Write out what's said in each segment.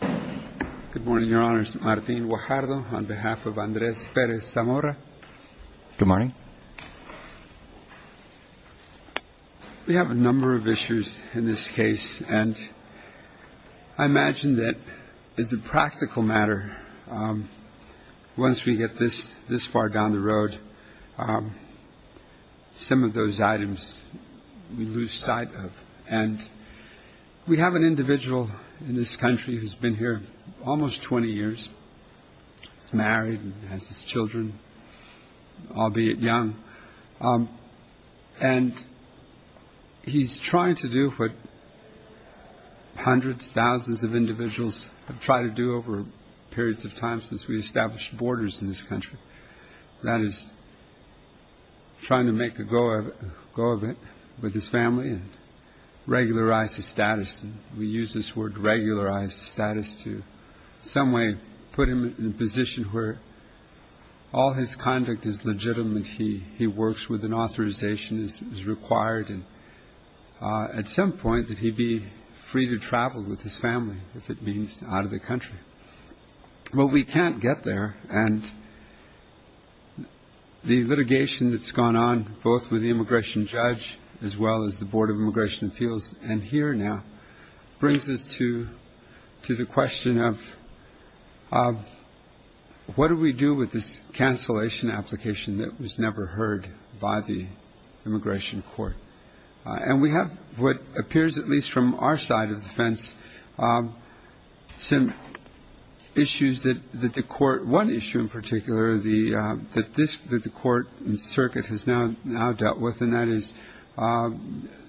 Good morning, Your Honors. Martin Guajardo on behalf of Andres Perez Zamora. Good morning. We have a number of issues in this case, and I imagine that as a practical matter, once we get this far down the road, some of those items we lose sight of. And we have an individual in this country who's been here almost 20 years. He's married and has his children, albeit young. And he's trying to do what hundreds, thousands of individuals have tried to do over periods of time since we established borders in this country. That is, trying to make a go of it with his family and regularize his status. We use this word regularize status to in some way put him in a position where all his conduct is legitimate. He works with an authorization as required. And at some point, he'd be free to travel with his family, if it means out of the country. Well, we can't get there, and the litigation that's gone on both with the immigration judge as well as the Board of Immigration Appeals and here now brings us to the question of what do we do with this cancellation application that was never heard by the immigration court? And we have what appears, at least from our side of the fence, some issues that the court – one issue in particular that the court and circuit has now dealt with, and that is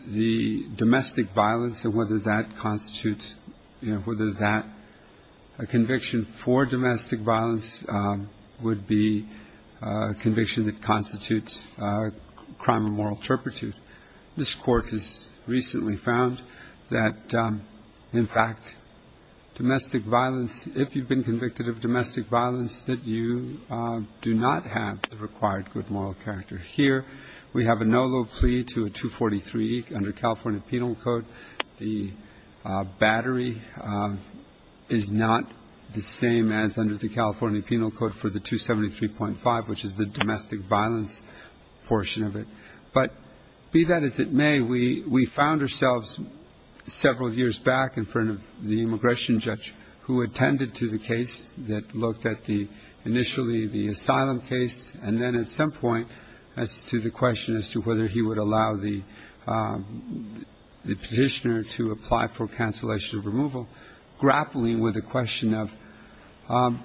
the domestic violence and whether that constitutes – this court has recently found that, in fact, domestic violence – if you've been convicted of domestic violence, that you do not have the required good moral character. Here, we have a no low plea to a 243 under California Penal Code. The battery is not the same as under the California Penal Code for the 273.5, which is the domestic violence portion of it. But be that as it may, we found ourselves several years back in front of the immigration judge who attended to the case that looked at the – initially the asylum case, and then at some point as to the question as to whether he would allow the petitioner to apply for cancellation of removal, grappling with the question of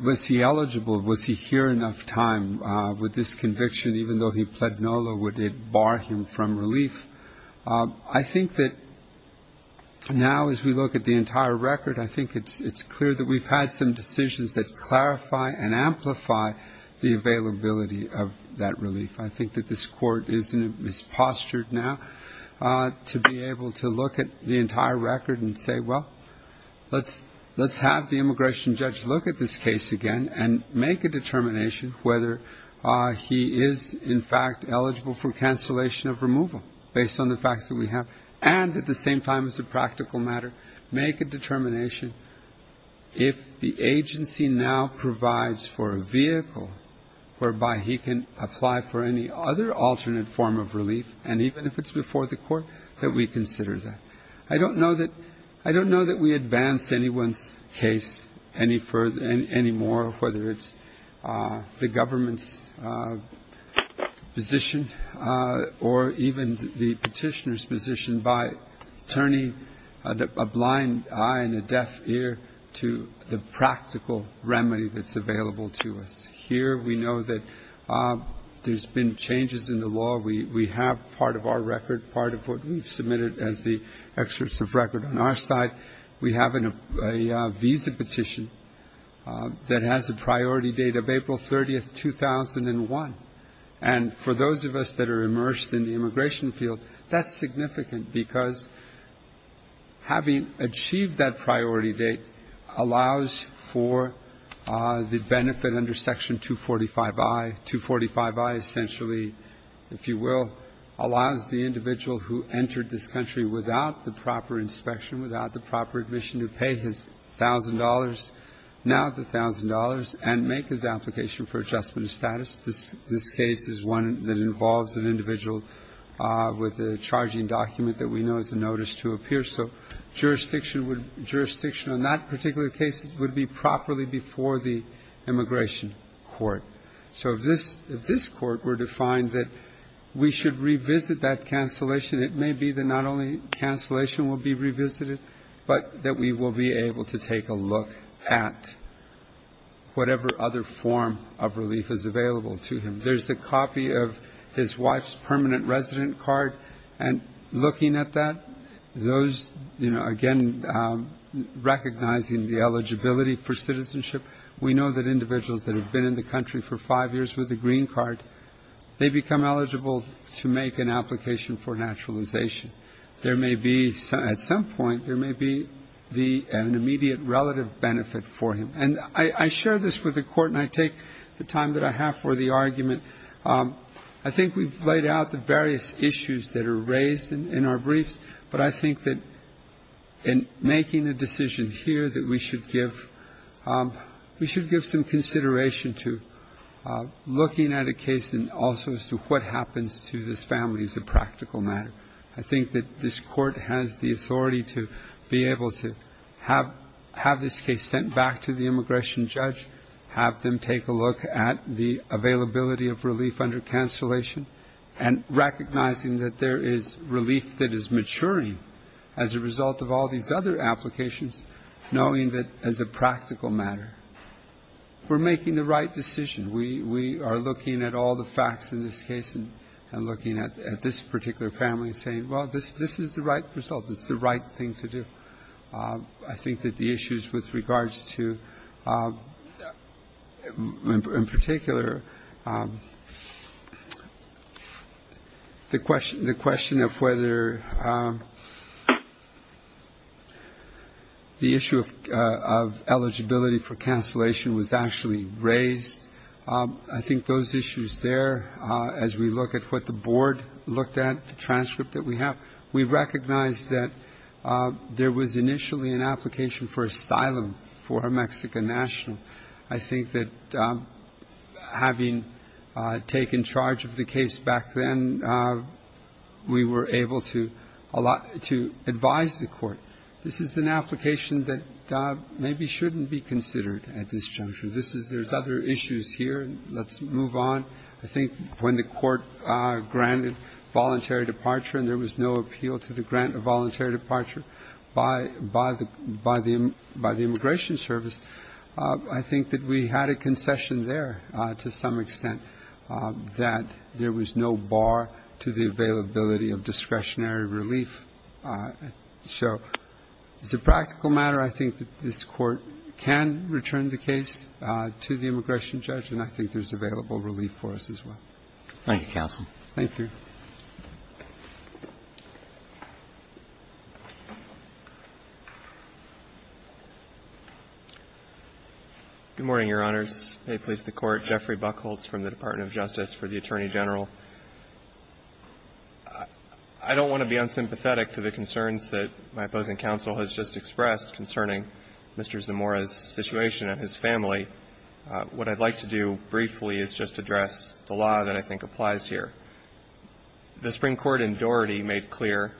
was he eligible, was he here enough time with this conviction. Even though he pled no low, would it bar him from relief? I think that now as we look at the entire record, I think it's clear that we've had some decisions that clarify and amplify the availability of that relief. I think that this court is postured now to be able to look at the entire record and say, well, let's have the immigration judge look at this case again and make a determination whether he is in fact eligible for cancellation of removal based on the facts that we have, and at the same time as a practical matter, make a determination if the agency now provides for a vehicle whereby he can apply for any other alternate form of relief, and even if it's before the court, that we consider that. I don't know that – I don't know that we advance anyone's case any further – any more, whether it's the government's position or even the petitioner's position by turning a blind eye and a deaf ear to the practical remedy that's available to us. Here we know that there's been changes in the law. We have part of our record, part of what we've submitted as the excerpts of record on our side. We have a visa petition that has a priority date of April 30, 2001. And for those of us that are immersed in the immigration field, that's significant, because having achieved that priority date allows for the benefit under Section 245I. Essentially, if you will, allows the individual who entered this country without the proper inspection, without the proper admission, to pay his thousand dollars, now the thousand dollars, and make his application for adjustment of status. This case is one that involves an individual with a charging document that we know is a notice to appear. So jurisdiction would – jurisdiction on that particular case would be properly before the immigration court. So if this court were to find that we should revisit that cancellation, it may be that not only cancellation will be revisited, but that we will be able to take a look at whatever other form of relief is available to him. There's a copy of his wife's permanent resident card. And looking at that, those, you know, again, recognizing the eligibility for citizenship, we know that individuals that have been in the country for five years with a green card, they become eligible to make an application for naturalization. There may be, at some point, there may be an immediate relative benefit for him. And I share this with the Court, and I take the time that I have for the argument. I think we've laid out the various issues that are raised in our briefs, but I think that in making a decision here that we should give, we should give some consideration to looking at a case and also as to what happens to this family as a practical matter. I think that this Court has the authority to be able to have this case sent back to the immigration judge, have them take a look at the availability of relief under cancellation, and recognizing that there is relief that is maturing as a result of all these other applications, knowing that as a practical matter we're making the right decision. We are looking at all the facts in this case and looking at this particular family and saying, well, this is the right result. It's the right thing to do. I think that the issues with regards to, in particular, the question of whether the issue of eligibility for cancellation was actually raised, I think those issues there, as we look at what the board looked at, the transcript that we have, we recognize that there was initially an application for asylum for a Mexican national. I think that having taken charge of the case back then, we were able to advise the Court. This is an application that maybe shouldn't be considered at this juncture. There's other issues here. Let's move on. I think when the Court granted voluntary departure and there was no appeal to the grant of voluntary departure by the immigration service, I think that we had a concession there to some extent, that there was no bar to the availability of discretionary relief. So as a practical matter, I think that this Court can return the case to the immigration judge, and I think there's available relief for us as well. Thank you, counsel. Thank you. Good morning, Your Honors. May it please the Court. Jeffrey Buchholz from the Department of Justice for the Attorney General. I don't want to be unsympathetic to the concerns that my opposing counsel has just expressed concerning Mr. Zamora's situation and his family. What I'd like to do briefly is just address the law that I think applies here. The Supreme Court in Doherty made clear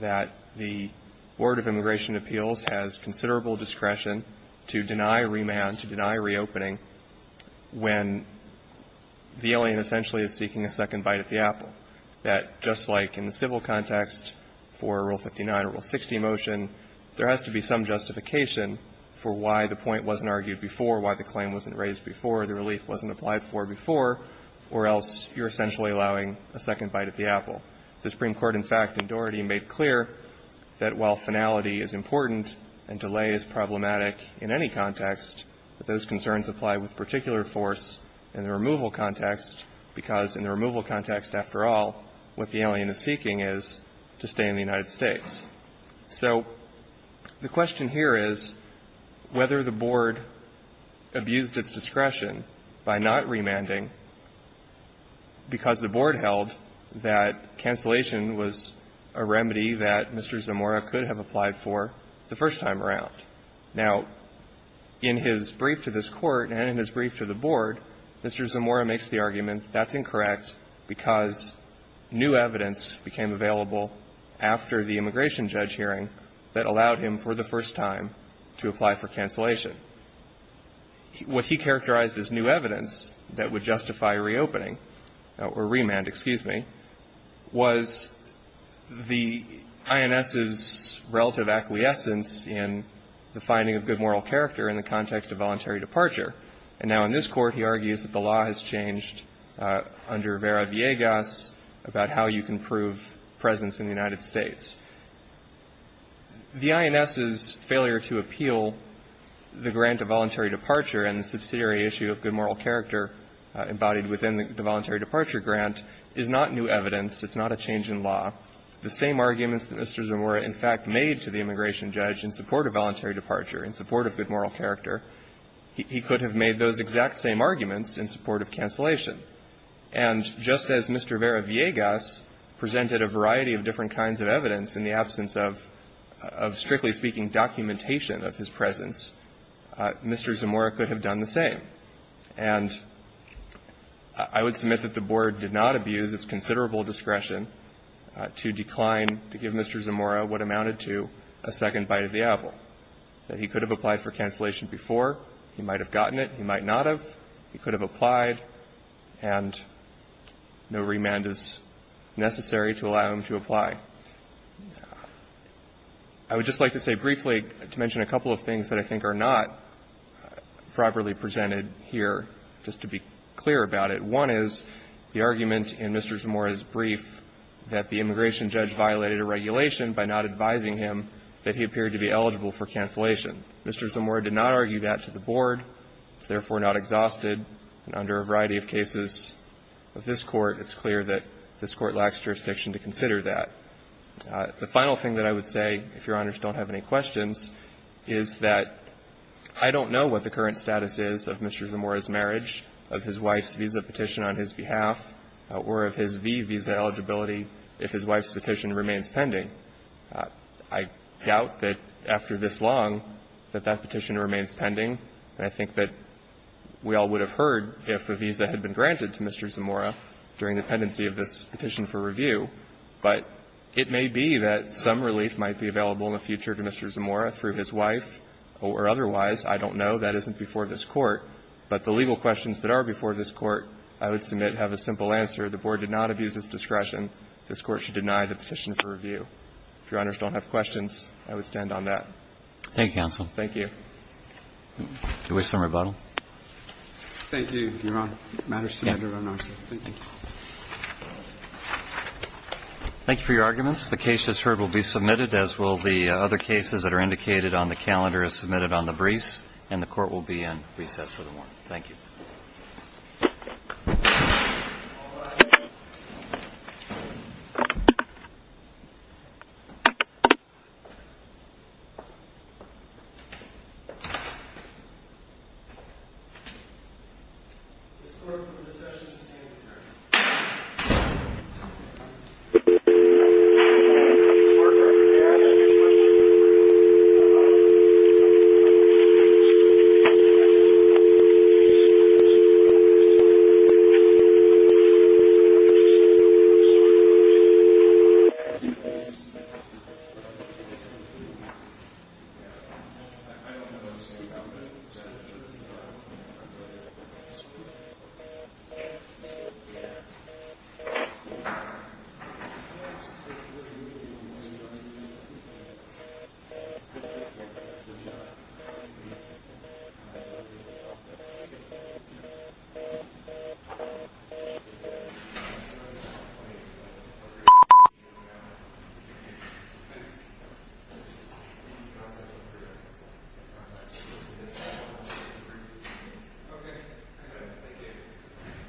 that the Board of Immigration Appeals has considerable discretion to deny remand, to deny reopening when the alien essentially is seeking a second bite at the apple, that just like in the civil context for Rule 59 or Rule 60 motion, there has to be some justification for why the point wasn't argued before, why the claim wasn't raised before, the relief wasn't applied for before, or else you're essentially allowing a second bite at the apple. The Supreme Court, in fact, in Doherty made clear that while finality is important and delay is problematic in any context, that those concerns apply with particular force in the removal context, because in the removal context, after all, what the alien is seeking is to stay in the United States. So the question here is whether the Board abused its discretion by not remanding because the Board held that cancellation was a remedy that Mr. Zamora could have applied for the first time around. Now, in his brief to this Court and in his brief to the Board, Mr. Zamora makes the argument that's incorrect because new evidence became available after the immigration judge hearing that allowed him for the first time to apply for cancellation. What he characterized as new evidence that would justify reopening or remand, excuse me, was the INS's relative acquiescence in the finding of good moral character in the context of voluntary departure. And now in this Court, he argues that the law has changed under Vera Viegas about how you can prove presence in the United States. The INS's failure to appeal the grant of voluntary departure and the subsidiary issue of good moral character embodied within the voluntary departure grant is not new evidence. It's not a change in law. The same arguments that Mr. Zamora in fact made to the immigration judge in support of voluntary departure, in support of good moral character, he could have made those exact same arguments in support of cancellation. And just as Mr. Vera Viegas presented a variety of different kinds of evidence in the absence of, strictly speaking, documentation of his presence, Mr. Zamora could have done the same. And I would submit that the Board did not abuse its considerable discretion to decline to give Mr. Zamora what amounted to a second bite of the apple, that he could have applied for cancellation before. He might have gotten it. He might not have. He could have applied. And no remand is necessary to allow him to apply. I would just like to say briefly to mention a couple of things that I think are not properly presented here, just to be clear about it. One is the argument in Mr. Zamora's brief that the immigration judge violated a regulation by not advising him that he appeared to be eligible for cancellation. Mr. Zamora did not argue that to the Board. It's therefore not exhausted. And under a variety of cases of this Court, it's clear that this Court lacks jurisdiction to consider that. The final thing that I would say, if Your Honors don't have any questions, is that I don't know what the current status is of Mr. Zamora's marriage, of his wife's visa petition on his behalf, or of his V visa eligibility if his wife's petition remains pending. I doubt that after this long that that petition remains pending. And I think that we all would have heard if a visa had been granted to Mr. Zamora during the pendency of this petition for review. But it may be that some relief might be available in the future to Mr. Zamora through his wife or otherwise. I don't know. That isn't before this Court. But the legal questions that are before this Court, I would submit, have a simple answer. The Board did not abuse its discretion. This Court should deny the petition for review. If Your Honors don't have questions, I would stand on that. Thank you, counsel. Thank you. Do we have some rebuttal? Thank you, Your Honor. The matter is submitted on our side. Thank you. Thank you for your arguments. The case, as heard, will be submitted, as will the other cases that are indicated on the calendar as submitted on the briefs. And the Court will be in recess for the morning. Thank you. This Court will recess and stand adjourned. Thank you. Okay. Thank you.